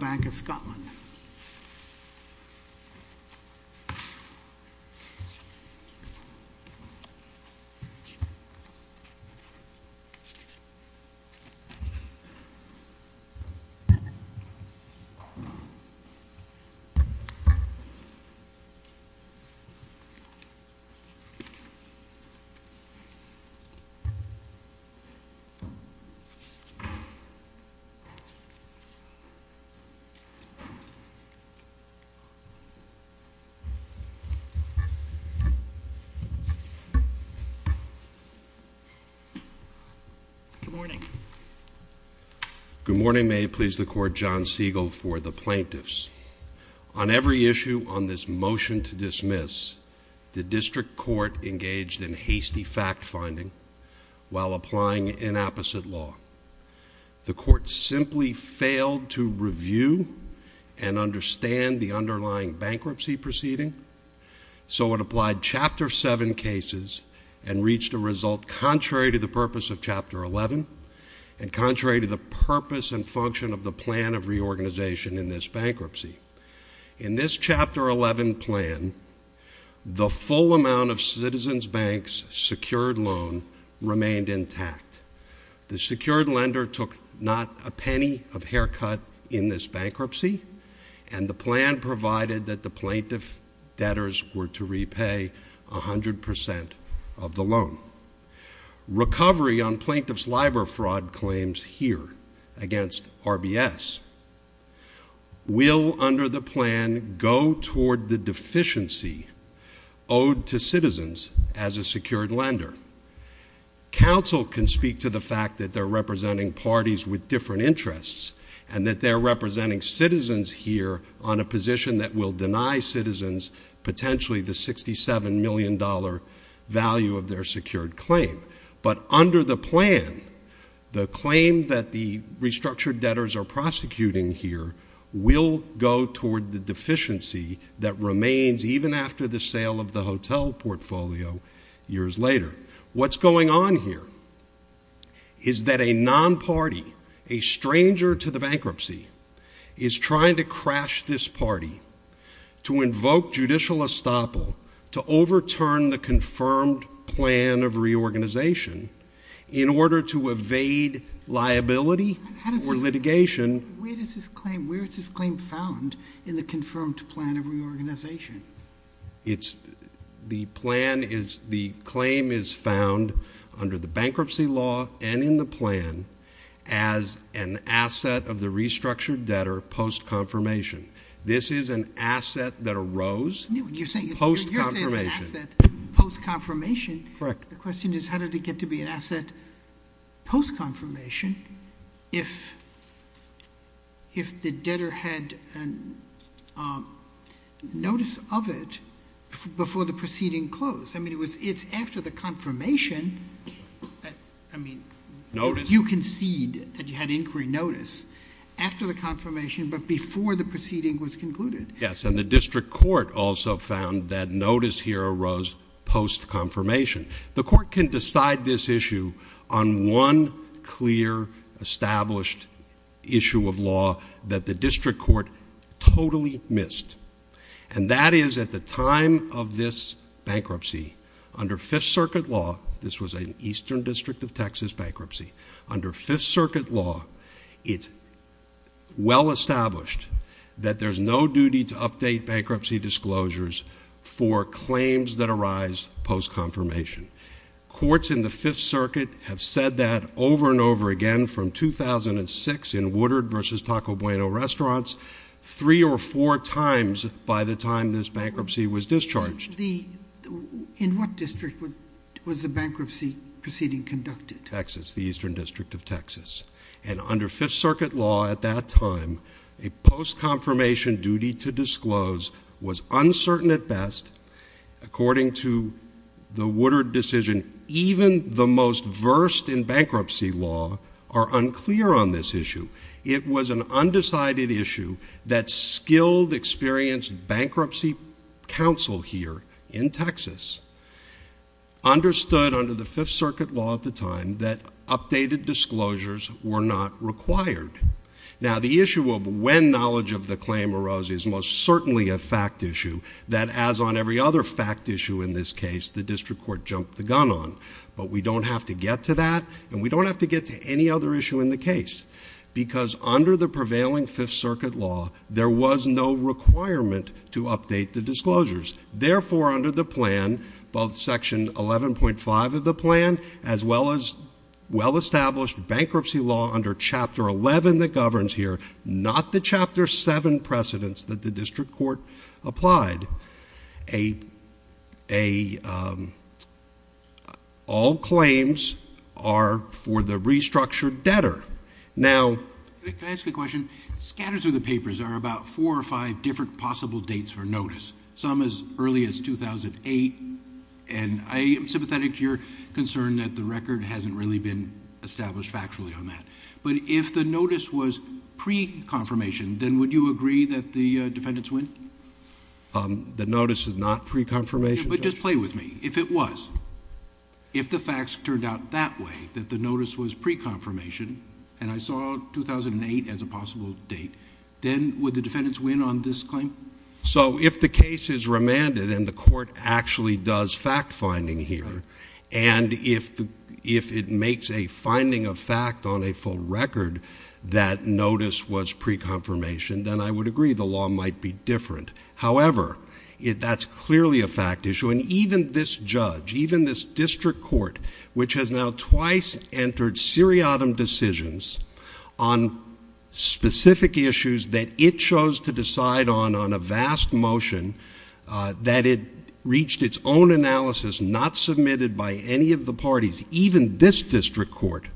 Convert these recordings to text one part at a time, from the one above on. Bank of Scotland. Good morning. Good morning. May it please the court, John Siegel for the plaintiffs. On every issue on this motion to dismiss, the district court engaged in hasty fact-finding while applying inapposite law. The court simply failed to review and understand the underlying bankruptcy proceeding, so it applied Chapter 7 cases and reached a result contrary to the purpose of Chapter 11 and contrary to the purpose and function of the plan of reorganization in this bankruptcy. In this Chapter 11 plan, the full amount of Citizens Bank's secured loan remained intact. The secured lender took not a penny of haircut in this bankruptcy, and the plan provided that the plaintiff debtors were to repay 100% of the loan. Recovery on plaintiff's LIBOR fraud claims here against RBS. Will, under the plan, go toward the deficiency owed to citizens as a secured lender? Counsel can speak to the fact that they're representing parties with different interests and that they're representing citizens here on a position that will deny citizens potentially the $67 million value of their secured claim. But under the plan, the claim that the restructured debtors are prosecuting here will go toward the deficiency that remains even after the sale of the hotel portfolio years later. What's going on here is that a non-party, a stranger to the bankruptcy, is trying to in order to evade liability or litigation. Where is this claim found in the confirmed plan of reorganization? The plan is, the claim is found under the bankruptcy law and in the plan as an asset of the restructured debtor post-confirmation. This is an asset that arose post-confirmation. You're saying it's an asset post-confirmation. Correct. The question is, how did it get to be an asset post-confirmation if the debtor had a notice of it before the proceeding closed? I mean, it's after the confirmation, I mean, you concede that you had inquiry notice after the confirmation but before the proceeding was concluded. Yes, and the district court also found that notice here arose post-confirmation. The court can decide this issue on one clear established issue of law that the district court totally missed. And that is at the time of this bankruptcy, under Fifth Circuit law, this was an Eastern District of Texas bankruptcy. Under Fifth Circuit law, it's well established that there's no duty to update bankruptcy disclosures for claims that arise post-confirmation. Courts in the Fifth Circuit have said that over and over again from 2006 in Woodard versus Taco Bueno restaurants, three or four times by the time this bankruptcy was discharged. In what district was the bankruptcy proceeding conducted? Texas, the Eastern District of Texas. And under Fifth Circuit law at that time, a post-confirmation duty to disclose was uncertain at best according to the Woodard decision. Even the most versed in bankruptcy law are unclear on this issue. It was an undecided issue that skilled, experienced bankruptcy counsel here in Texas understood under the Fifth Circuit law at the time that updated disclosures were not required. Now the issue of when knowledge of the claim arose is most certainly a fact issue that as on every other fact issue in this case, the district court jumped the gun on. But we don't have to get to that and we don't have to get to any other issue in the case because under the prevailing Fifth Circuit law, there was no requirement to update the disclosures. Therefore under the plan, both Section 11.5 of the plan as well as well-established bankruptcy law under Chapter 11 that governs here, not the Chapter 7 precedents that the district court applied, all claims are for the restructured debtor. Now- Can I ask a question? Scattered through the papers are about four or five different possible dates for notice. Some as early as 2008, and I am sympathetic to your concern that the record hasn't really been established factually on that. But if the notice was pre-confirmation, then would you agree that the defendants win? The notice is not pre-confirmation, Judge. But just play with me. If it was, if the facts turned out that way, that the notice was pre-confirmation, and I saw 2008 as a possible date, then would the defendants win on this claim? So if the case is remanded and the court actually does fact-finding here, and if it makes a finding of fact on a full record that notice was pre-confirmation, then I would agree the law might be different. However, that's clearly a fact issue, and even this judge, even this district court, which has now twice entered seriatim decisions on specific issues that it chose to decide on on a vast motion that it reached its own analysis, not submitted by any of the parties, even this district court,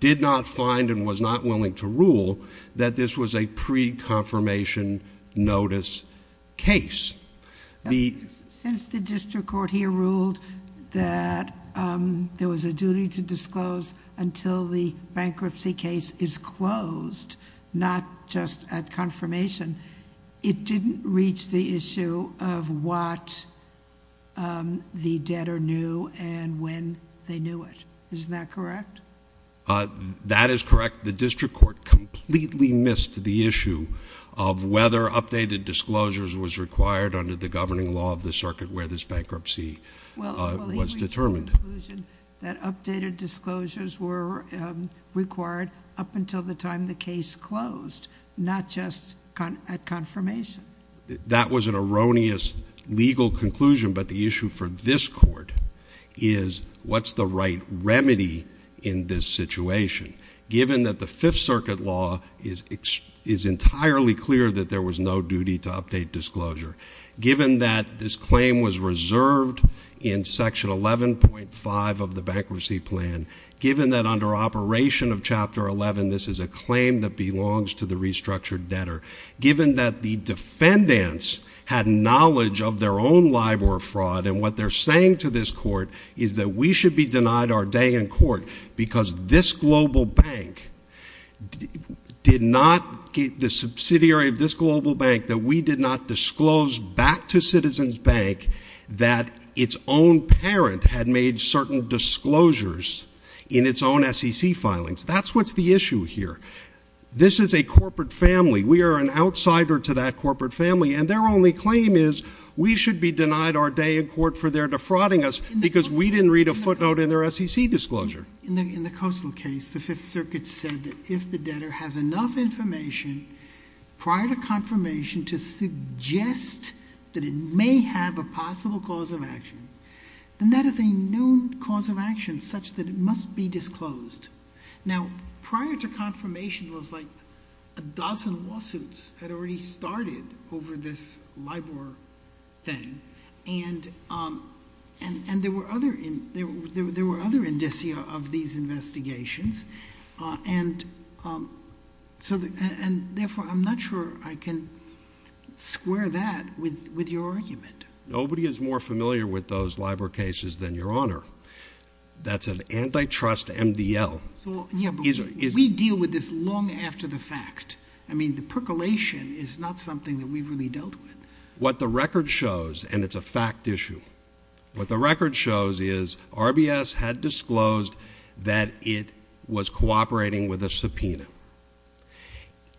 did not find and was not willing to rule that this was a pre-confirmation notice case. Since the district court here ruled that there was a duty to disclose until the bankruptcy case is closed, not just at confirmation, it didn't reach the issue of what the debtor knew and when they knew it. Isn't that correct? That is correct. The district court completely missed the issue of whether updated disclosures was required under the governing law of the circuit where this bankruptcy was determined. ...conclusion that updated disclosures were required up until the time the case closed, not just at confirmation. That was an erroneous legal conclusion, but the issue for this court is what's the right remedy in this situation, given that the Fifth Circuit law is entirely clear that there was no duty to update disclosure. Given that this claim was reserved in section 11.5 of the bankruptcy plan, given that under operation of chapter 11 this is a claim that belongs to the restructured debtor, given that the defendants had knowledge of their own LIBOR fraud and what they're saying to this court is that we should be denied our day in court because this global bank did not, the subsidiary of this global bank, that we did not disclose back to Citizens Bank that its own parent had made certain disclosures in its own SEC filings. That's what's the issue here. This is a corporate family. We are an outsider to that corporate family and their only claim is we should be denied our day in court for their defrauding us because we didn't read a footnote in their SEC disclosure. In the Coastal case, the Fifth Circuit said that if the debtor has enough information prior to confirmation to suggest that it may have a possible cause of action, then that is a known cause of action such that it must be disclosed. Now, prior to confirmation was like a dozen lawsuits had already started over this LIBOR thing, and there were other indicia of these investigations, and therefore, I'm not sure I can square that with your argument. Nobody is more familiar with those LIBOR cases than Your Honor. That's an antitrust MDL. Yeah, but we deal with this long after the fact. I mean, the percolation is not something that we've really dealt with. What the record shows, and it's a fact issue, what the record shows is RBS had disclosed that it was cooperating with a subpoena.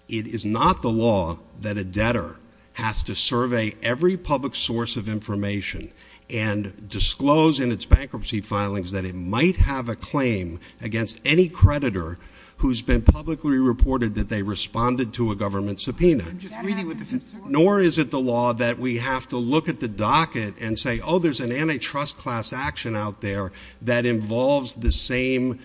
It is not the law that a debtor has to survey every public source of information and disclose in its bankruptcy filings that it might have a claim against any creditor who's been publicly reported that they responded to a government subpoena. I'm just reading what the fifth circuit says. Nor is it the law that we have to look at the docket and say, oh, there's an antitrust class action out there that involves the same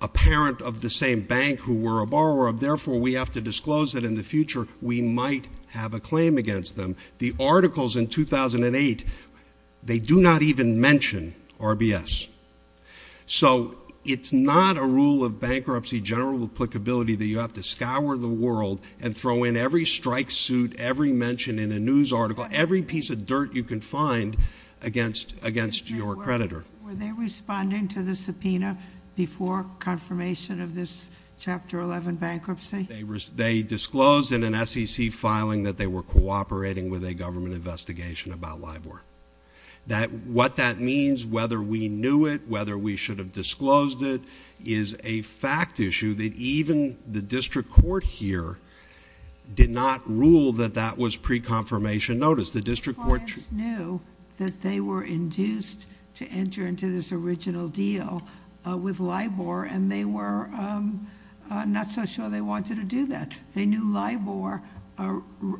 apparent of the same bank who were a borrower, therefore, we have to disclose that in the future we might have a claim against them. The articles in 2008, they do not even mention RBS. So it's not a rule of bankruptcy general applicability that you have to scour the world and throw in every strike suit, every mention in a news article, every piece of dirt you can find against your creditor. Were they responding to the subpoena before confirmation of this Chapter 11 bankruptcy? They disclosed in an SEC filing that they were cooperating with a government investigation about LIBOR. What that means, whether we knew it, whether we should have disclosed it, is a fact issue that even the district court here did not rule that that was pre-confirmation notice. The district court... The clients knew that they were induced to enter into this original deal with LIBOR, and they were not so sure they wanted to do that. They knew LIBOR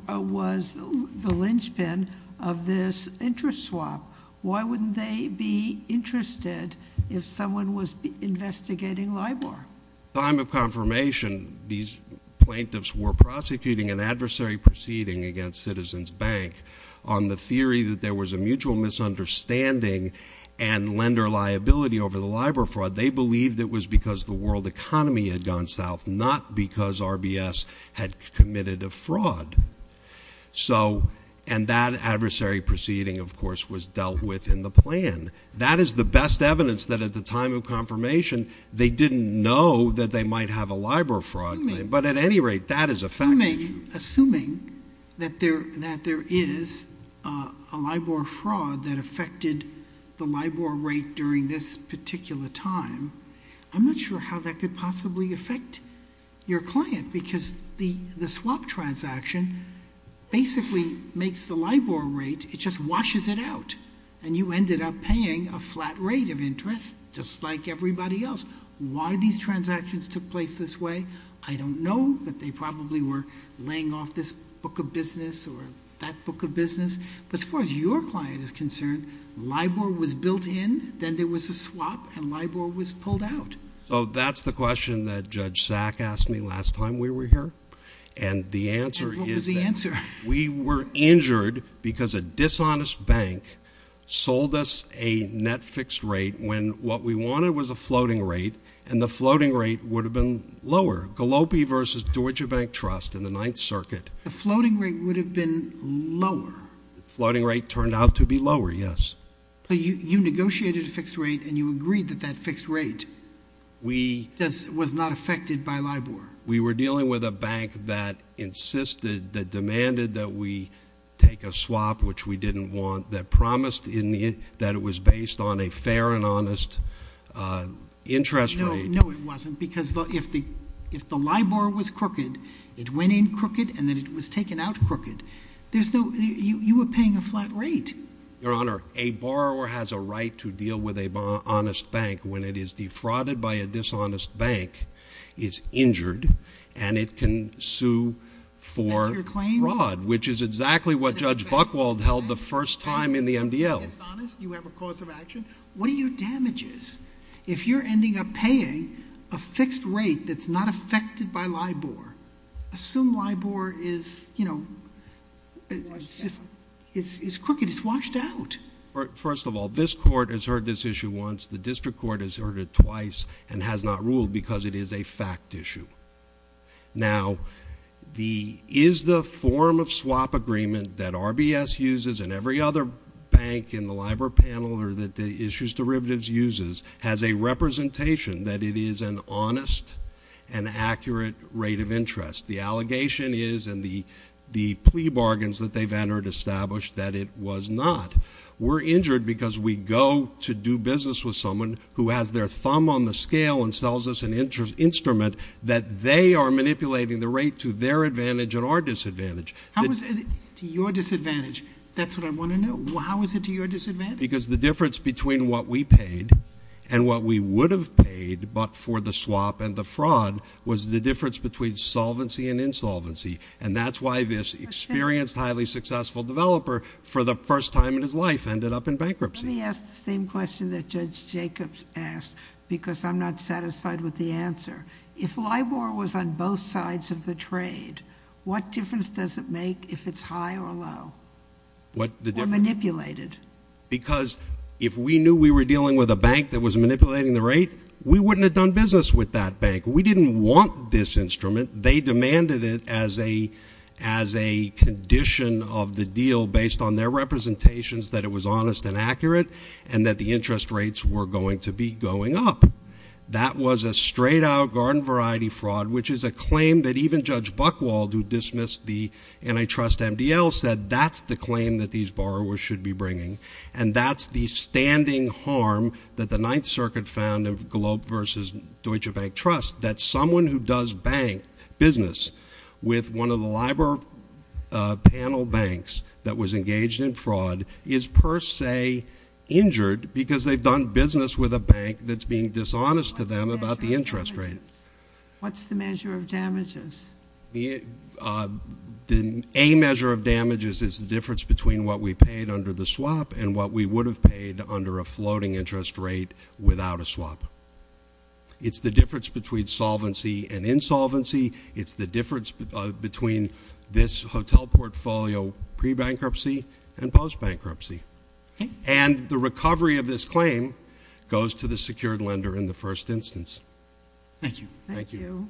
was the linchpin of this interest swap. Why wouldn't they be interested if someone was investigating LIBOR? At the time of confirmation, these plaintiffs were prosecuting an adversary proceeding against Citizens Bank on the theory that there was a mutual misunderstanding and lender liability over the LIBOR fraud. They believed it was because the world economy had gone south, not because RBS had committed a fraud. And that adversary proceeding, of course, was dealt with in the plan. That is the best evidence that at the time of confirmation, they didn't know that they might have a LIBOR fraud claim. But at any rate, that is a fact issue. Assuming that there is a LIBOR fraud that affected the LIBOR rate during this particular time, I'm not sure how that could possibly affect your client, because the swap transaction basically makes the LIBOR rate... it just washes it out. And you ended up paying a flat rate of interest, just like everybody else. Why these transactions took place this way, I don't know, but they probably were laying off this book of business or that book of business. But as far as your client is concerned, LIBOR was built in, then there was a swap, and LIBOR was pulled out. So that's the question that Judge Sack asked me last time we were here. And the answer is... And what was the answer? We were injured because a dishonest bank sold us a net fixed rate when what we wanted was a floating rate, and the floating rate would have been lower. Gallopi versus Deutsche Bank Trust in the Ninth Circuit. The floating rate would have been lower? Floating rate turned out to be lower, yes. You negotiated a fixed rate, and you agreed that that fixed rate was not affected by LIBOR? We were dealing with a bank that insisted, that demanded that we take a swap, which we didn't want, that promised that it was based on a fair and honest interest rate. No, it wasn't, because if the LIBOR was crooked, it went in crooked, and then it was taken out crooked. You were paying a flat rate. Your Honor, a borrower has a right to deal with an honest bank when it is defrauded by a dishonest bank, is injured, and it can sue for fraud, which is exactly what Judge Buchwald held the first time in the MDL. If you're dishonest, you have a cause of action. What are your damages? If you're ending up paying a fixed rate that's not affected by LIBOR, assume LIBOR is, you know, it's crooked, it's washed out. First of all, this Court has heard this issue once. The District Court has heard it twice and has not ruled because it is a fact issue. Now, the, is the form of swap agreement that RBS uses and every other bank in the LIBOR panel or that the issues derivatives uses has a representation that it is an honest and accurate rate of interest. The allegation is, and the plea bargains that they've entered establish that it was not. We're injured because we go to do business with someone who has their thumb on the scale and sells us an instrument that they are manipulating the rate to their advantage and our disadvantage. How is it to your disadvantage? That's what I want to know. How is it to your disadvantage? Because the difference between what we paid and what we would have paid but for the swap and the fraud was the difference between solvency and insolvency. And that's why this experienced, highly successful developer for the first time in his life ended up in bankruptcy. Let me ask the same question that Judge Jacobs asked because I'm not satisfied with the answer. If LIBOR was on both sides of the trade, what difference does it make if it's high or low? What the difference? Or manipulated? Because if we knew we were dealing with a bank that was manipulating the rate, we wouldn't have done business with that bank. We didn't want this instrument. They demanded it as a condition of the deal based on their representations that it was honest and accurate and that the interest rates were going to be going up. That was a straight out garden variety fraud, which is a claim that even Judge Buchwald, who dismissed the antitrust MDL, said that's the claim that these borrowers should be bringing. And that's the standing harm that the Ninth Circuit found of Globe versus Deutsche Bank Trust. That someone who does bank business with one of the LIBOR panel banks that was engaged in fraud, is per se injured because they've done business with a bank that's being dishonest to them about the interest rate. What's the measure of damages? A measure of damages is the difference between what we paid under the swap and what we would have paid under a floating interest rate without a swap. It's the difference between solvency and insolvency. It's the difference between this hotel portfolio pre-bankruptcy and post-bankruptcy. And the recovery of this claim goes to the secured lender in the first instance. Thank you. Thank you.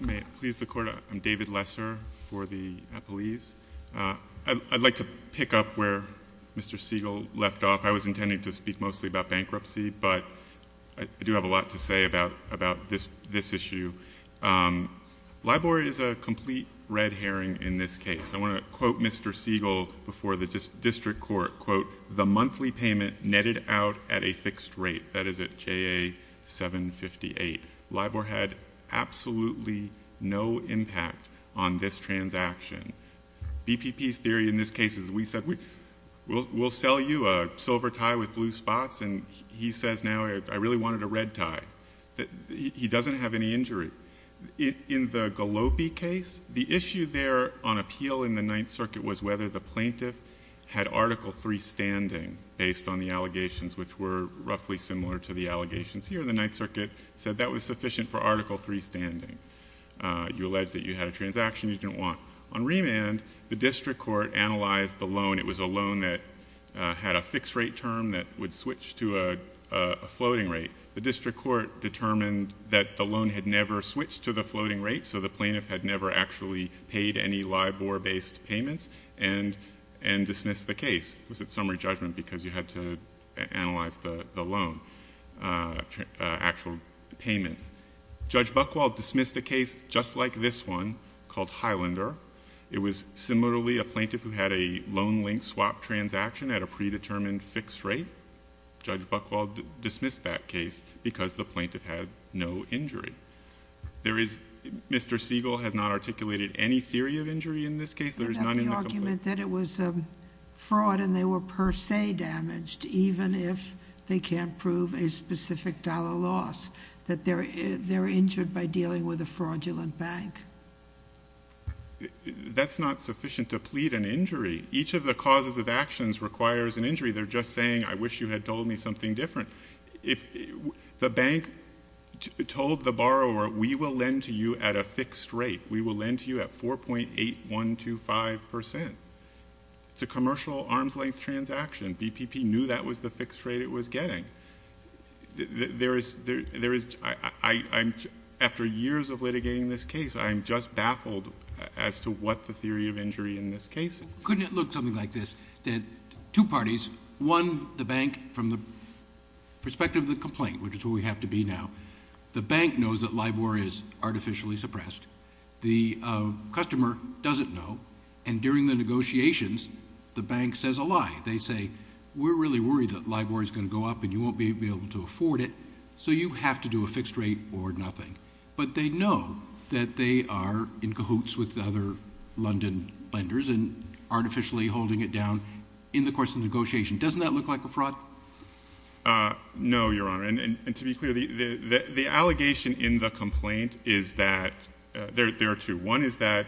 May it please the court, I'm David Lesser for the appellees. I'd like to pick up where Mr. Siegel left off. I was intending to speak mostly about bankruptcy, but I do have a lot to say about this issue. LIBOR is a complete red herring in this case. I want to quote Mr. Siegel before the district court, quote, the monthly payment netted out at a fixed rate. That is at JA 758. LIBOR had absolutely no impact on this transaction. BPP's theory in this case is we said we'll sell you a silver tie with blue spots and he says now I really wanted a red tie. He doesn't have any injury. In the Gallopi case, the issue there on appeal in the Ninth Circuit was whether the plaintiff had Article III standing based on the allegations, which were roughly similar to the allegations here in the Ninth Circuit, said that was sufficient for Article III standing. You alleged that you had a transaction you didn't want. On remand, the district court analyzed the loan. It was a loan that had a fixed rate term that would switch to a floating rate. The district court determined that the loan had never switched to the floating rate, so the plaintiff had never actually paid any LIBOR-based payments and dismissed the case. It was a summary judgment because you had to analyze the loan, actual payments. Judge Buchwald dismissed a case just like this one called Highlander. It was similarly a plaintiff who had a loan link swap transaction at a predetermined fixed rate. Judge Buchwald dismissed that case because the plaintiff had no injury. Mr. Siegel has not articulated any theory of injury in this case. There is none in the complaint. The argument that it was a fraud and they were per se damaged, even if they can't prove a specific dollar loss, that they're injured by dealing with a fraudulent bank. That's not sufficient to plead an injury. Each of the causes of actions requires an injury. They're just saying, I wish you had told me something different. If the bank told the borrower, we will lend to you at a fixed rate. We will lend to you at 4.8125%. It's a commercial arm's length transaction. BPP knew that was the fixed rate it was getting. After years of litigating this case, I'm just baffled as to what the theory of injury in this case is. Couldn't it look something like this, that two parties, one the bank from the perspective of the complaint, which is where we have to be now. The bank knows that LIBOR is artificially suppressed. The customer doesn't know. And during the negotiations, the bank says a lie. They say, we're really worried that LIBOR is going to go up and you won't be able to afford it. So you have to do a fixed rate or nothing. But they know that they are in cahoots with the other London lenders and artificially holding it down in the course of the negotiation. Doesn't that look like a fraud? No, your honor. And to be clear, the allegation in the complaint is that, there are two. One is that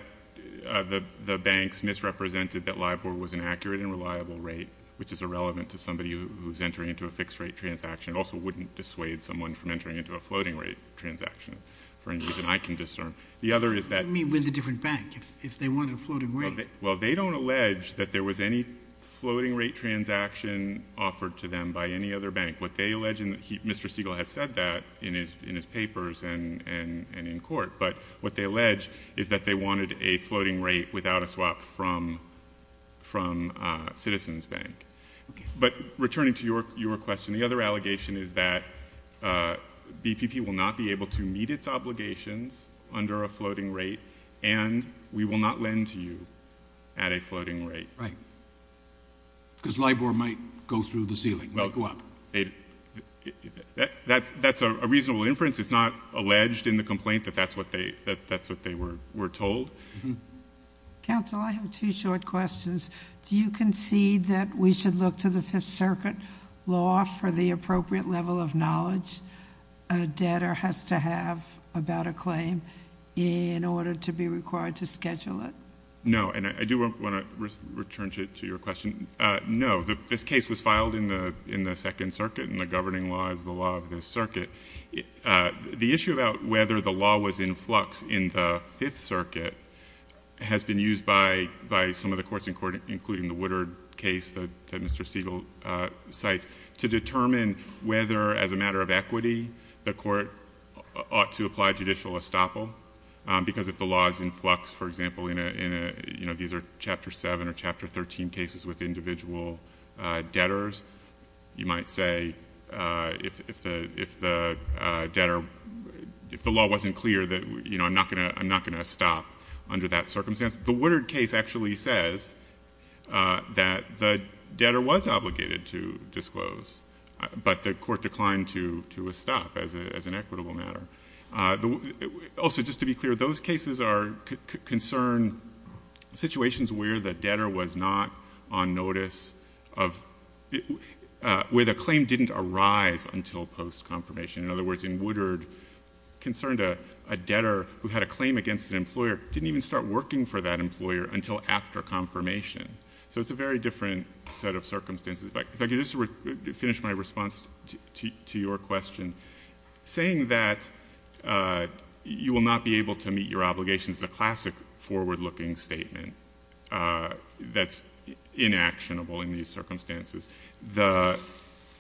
the banks misrepresented that LIBOR was an accurate and reliable rate, which is irrelevant to somebody who's entering into a fixed rate transaction. It also wouldn't dissuade someone from entering into a floating rate transaction, for any reason I can discern. The other is that- I mean, with a different bank, if they wanted a floating rate. Well, they don't allege that there was any floating rate transaction offered to them by any other bank. What they allege, and Mr. Siegel has said that in his papers and in court. But what they allege is that they wanted a floating rate without a swap from Citizens Bank. But returning to your question, the other allegation is that BPP will not be able to meet its obligations under a floating rate, and we will not lend to you at a floating rate. Right, because LIBOR might go through the ceiling, might go up. That's a reasonable inference. It's not alleged in the complaint that that's what they were told. Counsel, I have two short questions. Do you concede that we should look to the Fifth Circuit law for the appropriate level of knowledge a debtor has to have about a claim in order to be required to schedule it? No, and I do want to return to your question. No, this case was filed in the Second Circuit, and the governing law is the law of this circuit. The issue about whether the law was in flux in the Fifth Circuit has been used by some of the courts in court, including the Woodard case that Mr. Siegel cites, to determine whether, as a matter of equity, the court ought to apply judicial estoppel. Because if the law is in flux, for example, these are Chapter 7 or Chapter 13 cases with individual debtors. You might say, if the debtor, if the law wasn't clear that I'm not going to estop under that circumstance. The Woodard case actually says that the debtor was obligated to disclose, but the court declined to estop as an equitable matter. Also, just to be clear, those cases concern situations where the debtor was not on notice of. Where the claim didn't arise until post-confirmation. In other words, in Woodard, concerned a debtor who had a claim against an employer didn't even start working for that employer until after confirmation. So it's a very different set of circumstances. If I could just finish my response to your question. Saying that you will not be able to meet your obligations, is a classic forward-looking statement that's inactionable in these circumstances. The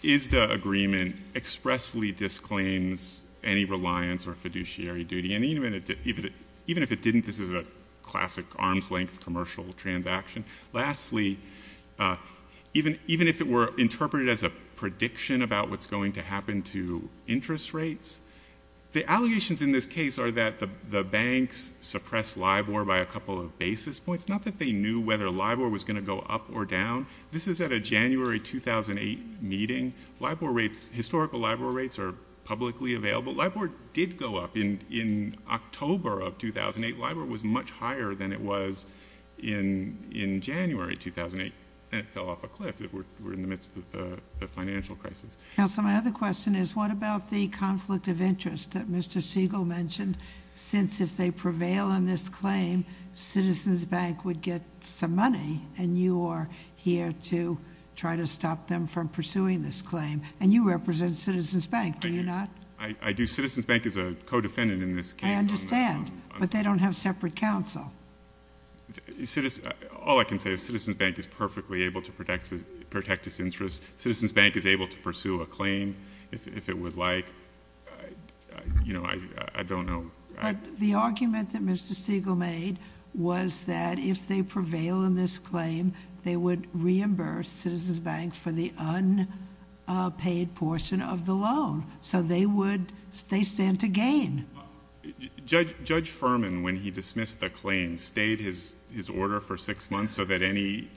ISDA agreement expressly disclaims any reliance or fiduciary duty. And even if it didn't, this is a classic arms-length commercial transaction. Lastly, even if it were interpreted as a prediction about what's going to happen to interest rates, the allegations in this case are that the banks suppressed LIBOR by a couple of basis points. Not that they knew whether LIBOR was going to go up or down. This is at a January 2008 meeting. LIBOR rates, historical LIBOR rates are publicly available. LIBOR did go up in October of 2008. LIBOR was much higher than it was in January 2008, and it fell off a cliff. We're in the midst of a financial crisis. Counsel, my other question is, what about the conflict of interest that Mr. Segal mentioned? Since if they prevail on this claim, Citizens Bank would get some money, and you are here to try to stop them from pursuing this claim. And you represent Citizens Bank, do you not? I do. Citizens Bank is a co-defendant in this case. I understand, but they don't have separate counsel. All I can say is Citizens Bank is perfectly able to protect its interests. Citizens Bank is able to pursue a claim if it would like. I don't know. The argument that Mr. Segal made was that if they prevail in this claim, they would reimburse Citizens Bank for the unpaid portion of the loan. So they would, they stand to gain. Judge Furman, when he dismissed the claim, stayed his order for six months so that any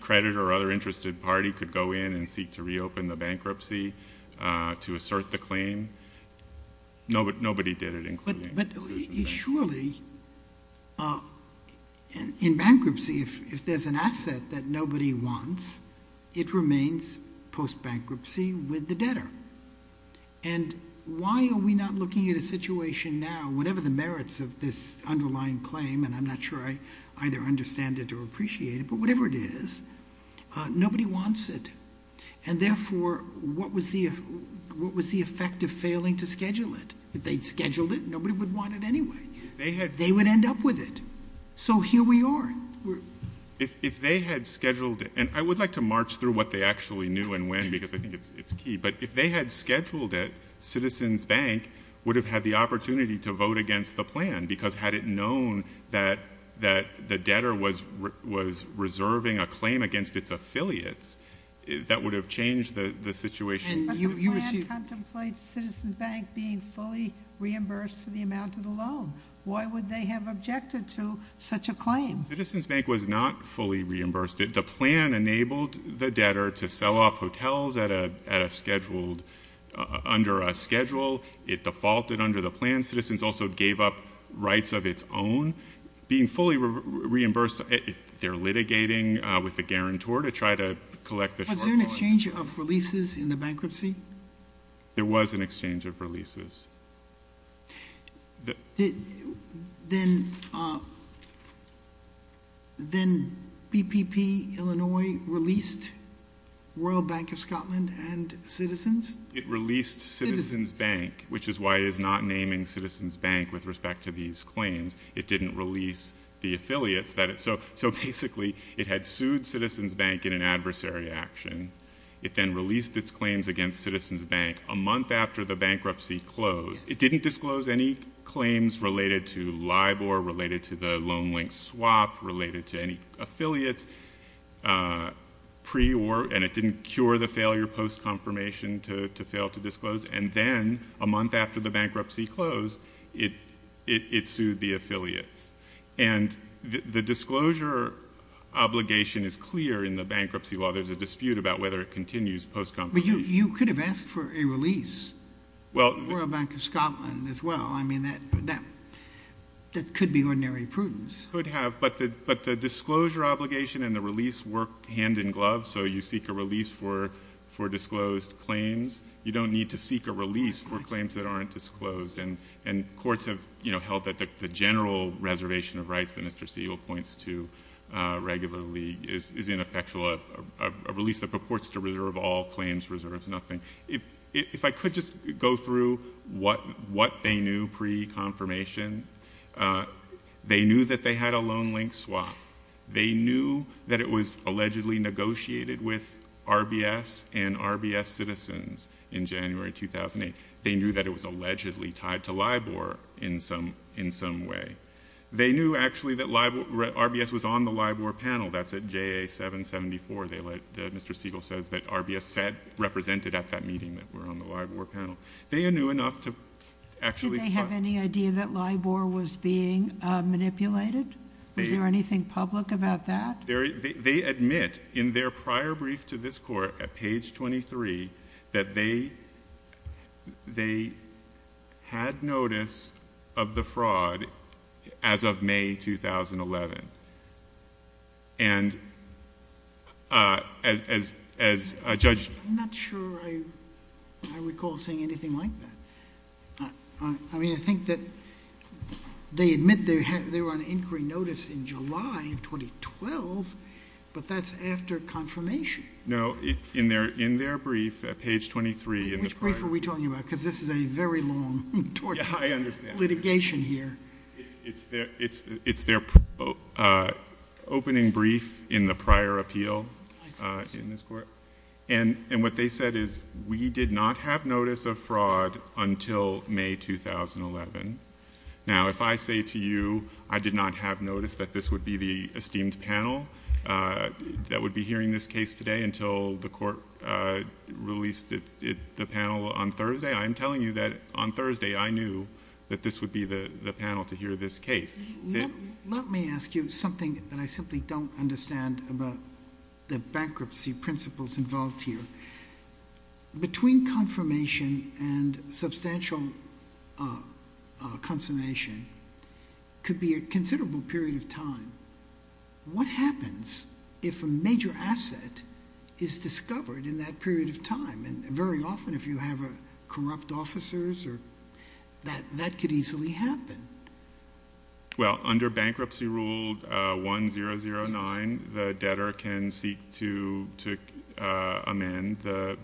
creditor or other interested party could go in and seek to reopen the bankruptcy to assert the claim. Nobody did it, including Citizens Bank. Surely, in bankruptcy, if there's an asset that nobody wants, it remains post-bankruptcy with the debtor. And why are we not looking at a situation now, whatever the merits of this underlying claim, and I'm not sure I either understand it or appreciate it, but whatever it is, nobody wants it. And therefore, what was the effect of failing to schedule it? If they'd scheduled it, nobody would want it anyway. They would end up with it. So here we are. If they had scheduled it, and I would like to march through what they actually knew and when, because I think it's key. But if they had scheduled it, Citizens Bank would have had the opportunity to vote against the plan, because had it known that the debtor was reserving a claim against its affiliates, that would have changed the situation. And you received- But the plan contemplates Citizens Bank being fully reimbursed for the amount of the loan. Why would they have objected to such a claim? Citizens Bank was not fully reimbursed. The plan enabled the debtor to sell off hotels under a schedule. It defaulted under the plan. Citizens also gave up rights of its own. Being fully reimbursed, they're litigating with the guarantor to try to collect the shortfall. Was there an exchange of releases in the bankruptcy? There was an exchange of releases. Then BPP Illinois released Royal Bank of Scotland and Citizens? It released Citizens Bank, which is why it is not naming Citizens Bank with respect to these claims. It didn't release the affiliates. So basically, it had sued Citizens Bank in an adversary action. It then released its claims against Citizens Bank a month after the bankruptcy closed. It didn't disclose any claims related to LIBOR, related to the loan link swap, related to any affiliates. It didn't cure the failure post-confirmation to fail to disclose. Then a month after the bankruptcy closed, it sued the affiliates. The disclosure obligation is clear in the bankruptcy law. There's a dispute about whether it continues post-confirmation. You could have asked for a release, Royal Bank of Scotland as well. I mean, that could be ordinary prudence. But the disclosure obligation and the release work hand in glove, so you seek a release for disclosed claims. You don't need to seek a release for claims that aren't disclosed. And courts have held that the general reservation of rights that Mr. Segal points to regularly is ineffectual, a release that purports to reserve all claims, reserves nothing. If I could just go through what they knew pre-confirmation. They knew that they had a loan link swap. They knew that it was allegedly negotiated with RBS and RBS citizens in January 2008. They knew that it was allegedly tied to LIBOR in some way. They knew actually that RBS was on the LIBOR panel. That's at JA 774, Mr. Segal says, that RBS represented at that meeting that were on the LIBOR panel. They knew enough to actually- Do you have any idea that LIBOR was being manipulated? Is there anything public about that? They admit in their prior brief to this court at page 23 that they had notice of the fraud as of May 2011. And as a judge- I'm not sure I recall seeing anything like that. I mean, I think that they admit they were on inquiry notice in July of 2012, but that's after confirmation. No, in their brief at page 23 in the prior- Which brief are we talking about? Because this is a very long tort litigation here. It's their opening brief in the prior appeal in this court. And what they said is, we did not have notice of fraud until May 2011. Now, if I say to you, I did not have notice that this would be the esteemed panel that would be hearing this case today until the court released the panel on Thursday, I'm telling you that on Thursday, I knew that this would be the panel to hear this case. Let me ask you something that I simply don't understand about the bankruptcy principles involved here. Between confirmation and substantial consummation could be a considerable period of time. What happens if a major asset is discovered in that period of time? And very often if you have corrupt officers, that could easily happen. Well, under Bankruptcy Rule 1009, the debtor can seek to amend the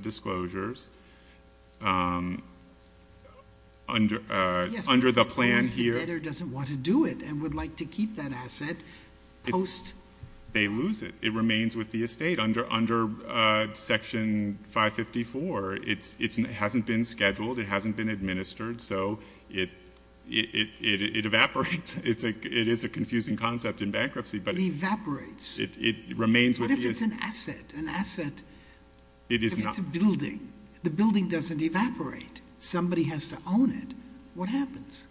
disclosures. Under the plan here- Yes, but the debtor doesn't want to do it and would like to keep that asset post- They lose it. It remains with the estate. Under Section 554, it hasn't been scheduled, it hasn't been administered. So it evaporates. It is a confusing concept in bankruptcy, but- It evaporates. It remains with the estate. What if it's an asset? An asset, if it's a building? The building doesn't evaporate. Somebody has to own it. What happens?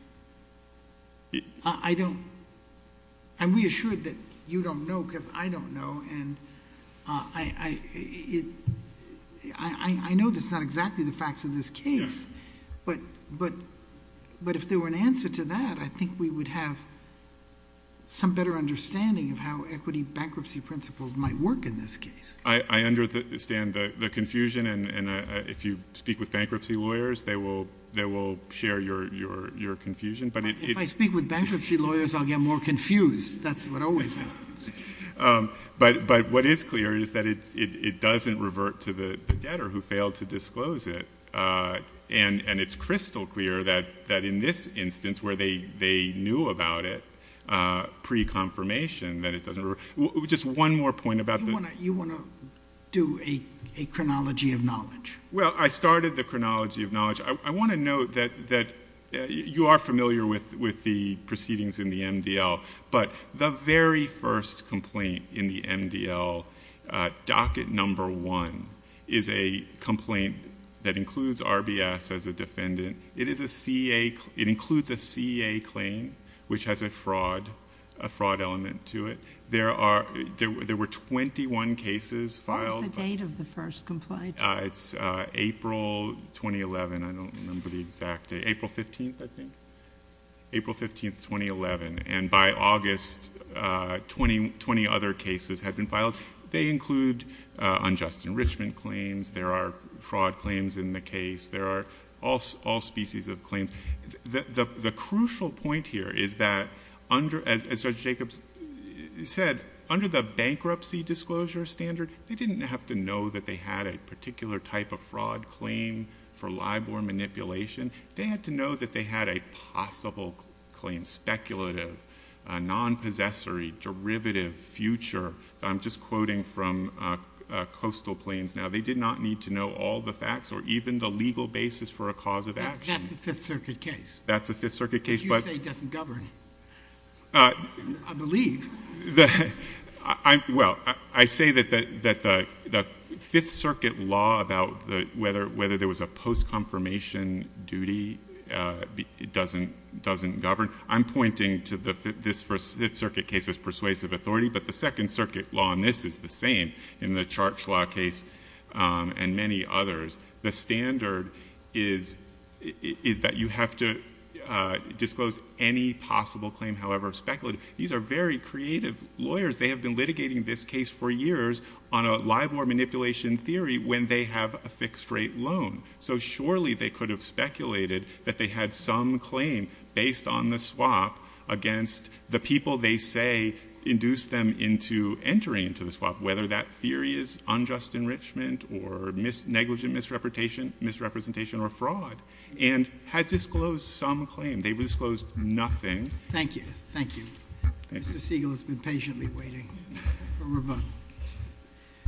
I don't, I'm reassured that you don't know because I don't know. And I know that's not exactly the facts of this case. But if there were an answer to that, I think we would have some better understanding of how equity bankruptcy principles might work in this case. I understand the confusion and if you speak with bankruptcy lawyers, they will share your confusion. If I speak with bankruptcy lawyers, I'll get more confused. That's what always happens. But what is clear is that it doesn't revert to the debtor who failed to disclose it. And it's crystal clear that in this instance where they knew about it pre-confirmation, that it doesn't revert. Just one more point about the- You want to do a chronology of knowledge. Well, I started the chronology of knowledge. I want to note that you are familiar with the proceedings in the MDL. But the very first complaint in the MDL, docket number one, is a complaint that includes RBS as a defendant. It includes a CEA claim, which has a fraud element to it. There were 21 cases filed. What was the date of the first complaint? It's April 2011. I don't remember the exact date. April 15th, I think? April 15th, 2011. And by August, 20 other cases had been filed. They include unjust enrichment claims. There are fraud claims in the case. There are all species of claims. The crucial point here is that, as Judge Jacobs said, under the bankruptcy disclosure standard, they didn't have to know that they had a particular type of fraud claim for LIBOR manipulation. They had to know that they had a possible claim, speculative, non-possessory, derivative, future. I'm just quoting from Coastal Plains now. They did not need to know all the facts or even the legal basis for a cause of action. That's a Fifth Circuit case. That's a Fifth Circuit case. But you say it doesn't govern. I believe. Well, I say that the Fifth Circuit law about whether there was a post-confirmation duty doesn't govern. I'm pointing to the Fifth Circuit case as persuasive authority, but the Second Circuit law on this is the same in the charge law case and many others. The standard is that you have to disclose any possible claim, however speculative. These are very creative lawyers. They have been litigating this case for years on a LIBOR manipulation theory when they have a fixed rate loan. So surely they could have speculated that they had some claim based on the swap against the people they say induced them into entering into the swap, whether that theory is unjust enrichment or negligent misrepresentation or fraud. And had disclosed some claim. They disclosed nothing. Thank you. Thank you. Mr. Siegel has been patiently waiting for rebuttal.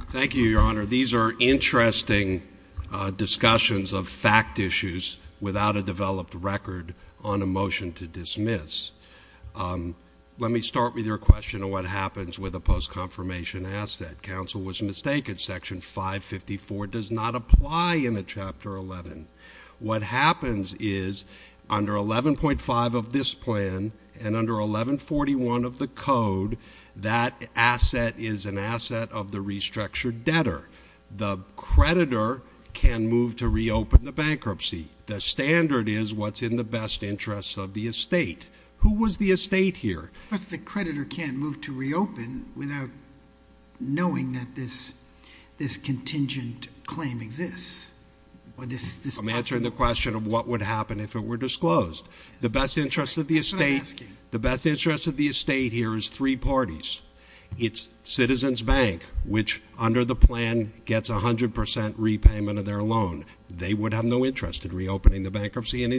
Thank you, Your Honor. These are interesting discussions of fact issues without a developed record on a motion to dismiss. Let me start with your question of what happens with a post-confirmation asset. Counsel was mistaken. Section 554 does not apply in a chapter 11. What happens is under 11.5 of this plan and under 11.41 of the code, that asset is an asset of the restructured debtor. The creditor can move to reopen the bankruptcy. The standard is what's in the best interest of the estate. Who was the estate here? But the creditor can't move to reopen without knowing that this contingent claim exists. I'm answering the question of what would happen if it were disclosed. The best interest of the estate here is three parties. It's Citizens Bank, which under the plan gets 100% repayment of their loan. They would have no interest in reopening the bankruptcy, and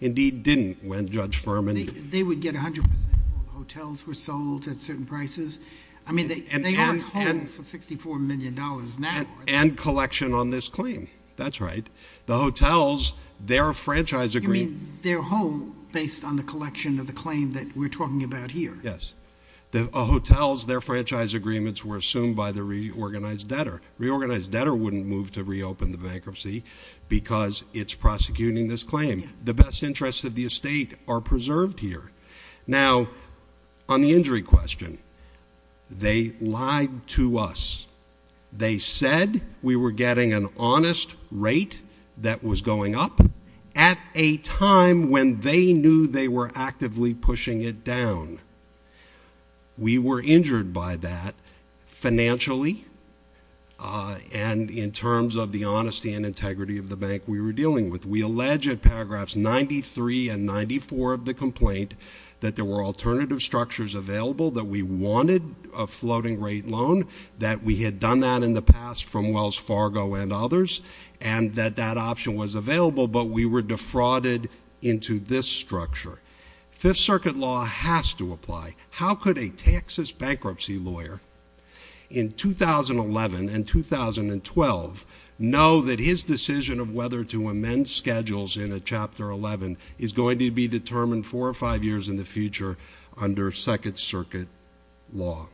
indeed didn't when Judge Furman- They would get 100% before hotels were sold at certain prices. I mean, they aren't holding for $64 million now, are they? And collection on this claim, that's right. The hotels, their franchise agreement- They're whole based on the collection of the claim that we're talking about here. Yes. The hotels, their franchise agreements were assumed by the reorganized debtor. Reorganized debtor wouldn't move to reopen the bankruptcy because it's prosecuting this claim. The best interests of the estate are preserved here. Now, on the injury question, they lied to us. They said we were getting an honest rate that was going up at a time when they knew they were actively pushing it down. We were injured by that financially and in terms of the honesty and integrity of the bank we were dealing with. We allege at paragraphs 93 and 94 of the complaint that there were alternative structures available, that we wanted a floating rate loan, that we had done that in the past from Wells Fargo and others, and that that option was available, but we were defrauded into this structure. Fifth Circuit law has to apply. How could a Texas bankruptcy lawyer in 2011 and 2012 know that his decision of whether to amend schedules in a chapter 11 is going to be determined four or five years in the future under Second Circuit law?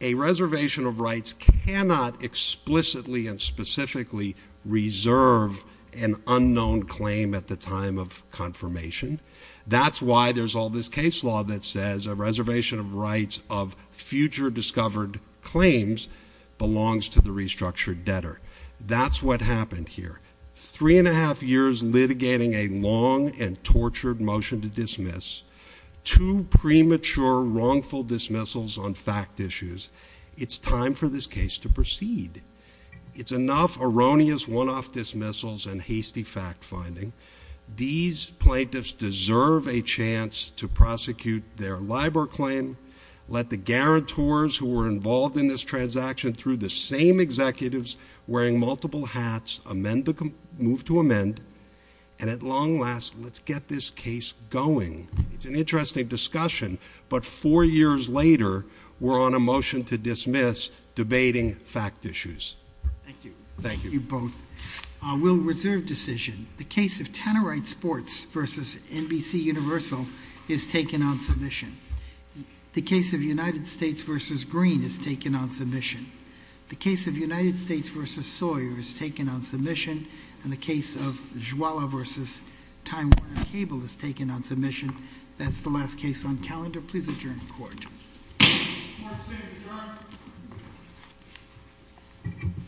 A reservation of rights cannot explicitly and specifically reserve an unknown claim at the time of confirmation. That's why there's all this case law that says a reservation of rights of future discovered claims belongs to the restructured debtor. That's what happened here. Three and a half years litigating a long and tortured motion to dismiss, two premature wrongful dismissals on fact issues. It's time for this case to proceed. It's enough erroneous one-off dismissals and hasty fact finding. These plaintiffs deserve a chance to prosecute their LIBOR claim. Let the guarantors who were involved in this transaction through the same executives wearing multiple hats move to amend. And at long last, let's get this case going. It's an interesting discussion, but four years later, we're on a motion to dismiss, debating fact issues. Thank you. Thank you both. We'll reserve decision. The case of Tannerite Sports versus NBC Universal is taken on submission. The case of United States versus Green is taken on submission. The case of United States versus Sawyer is taken on submission. And the case of Jwala versus Time Warner Cable is taken on submission. That's the last case on calendar. Please adjourn to court. Court is adjourned.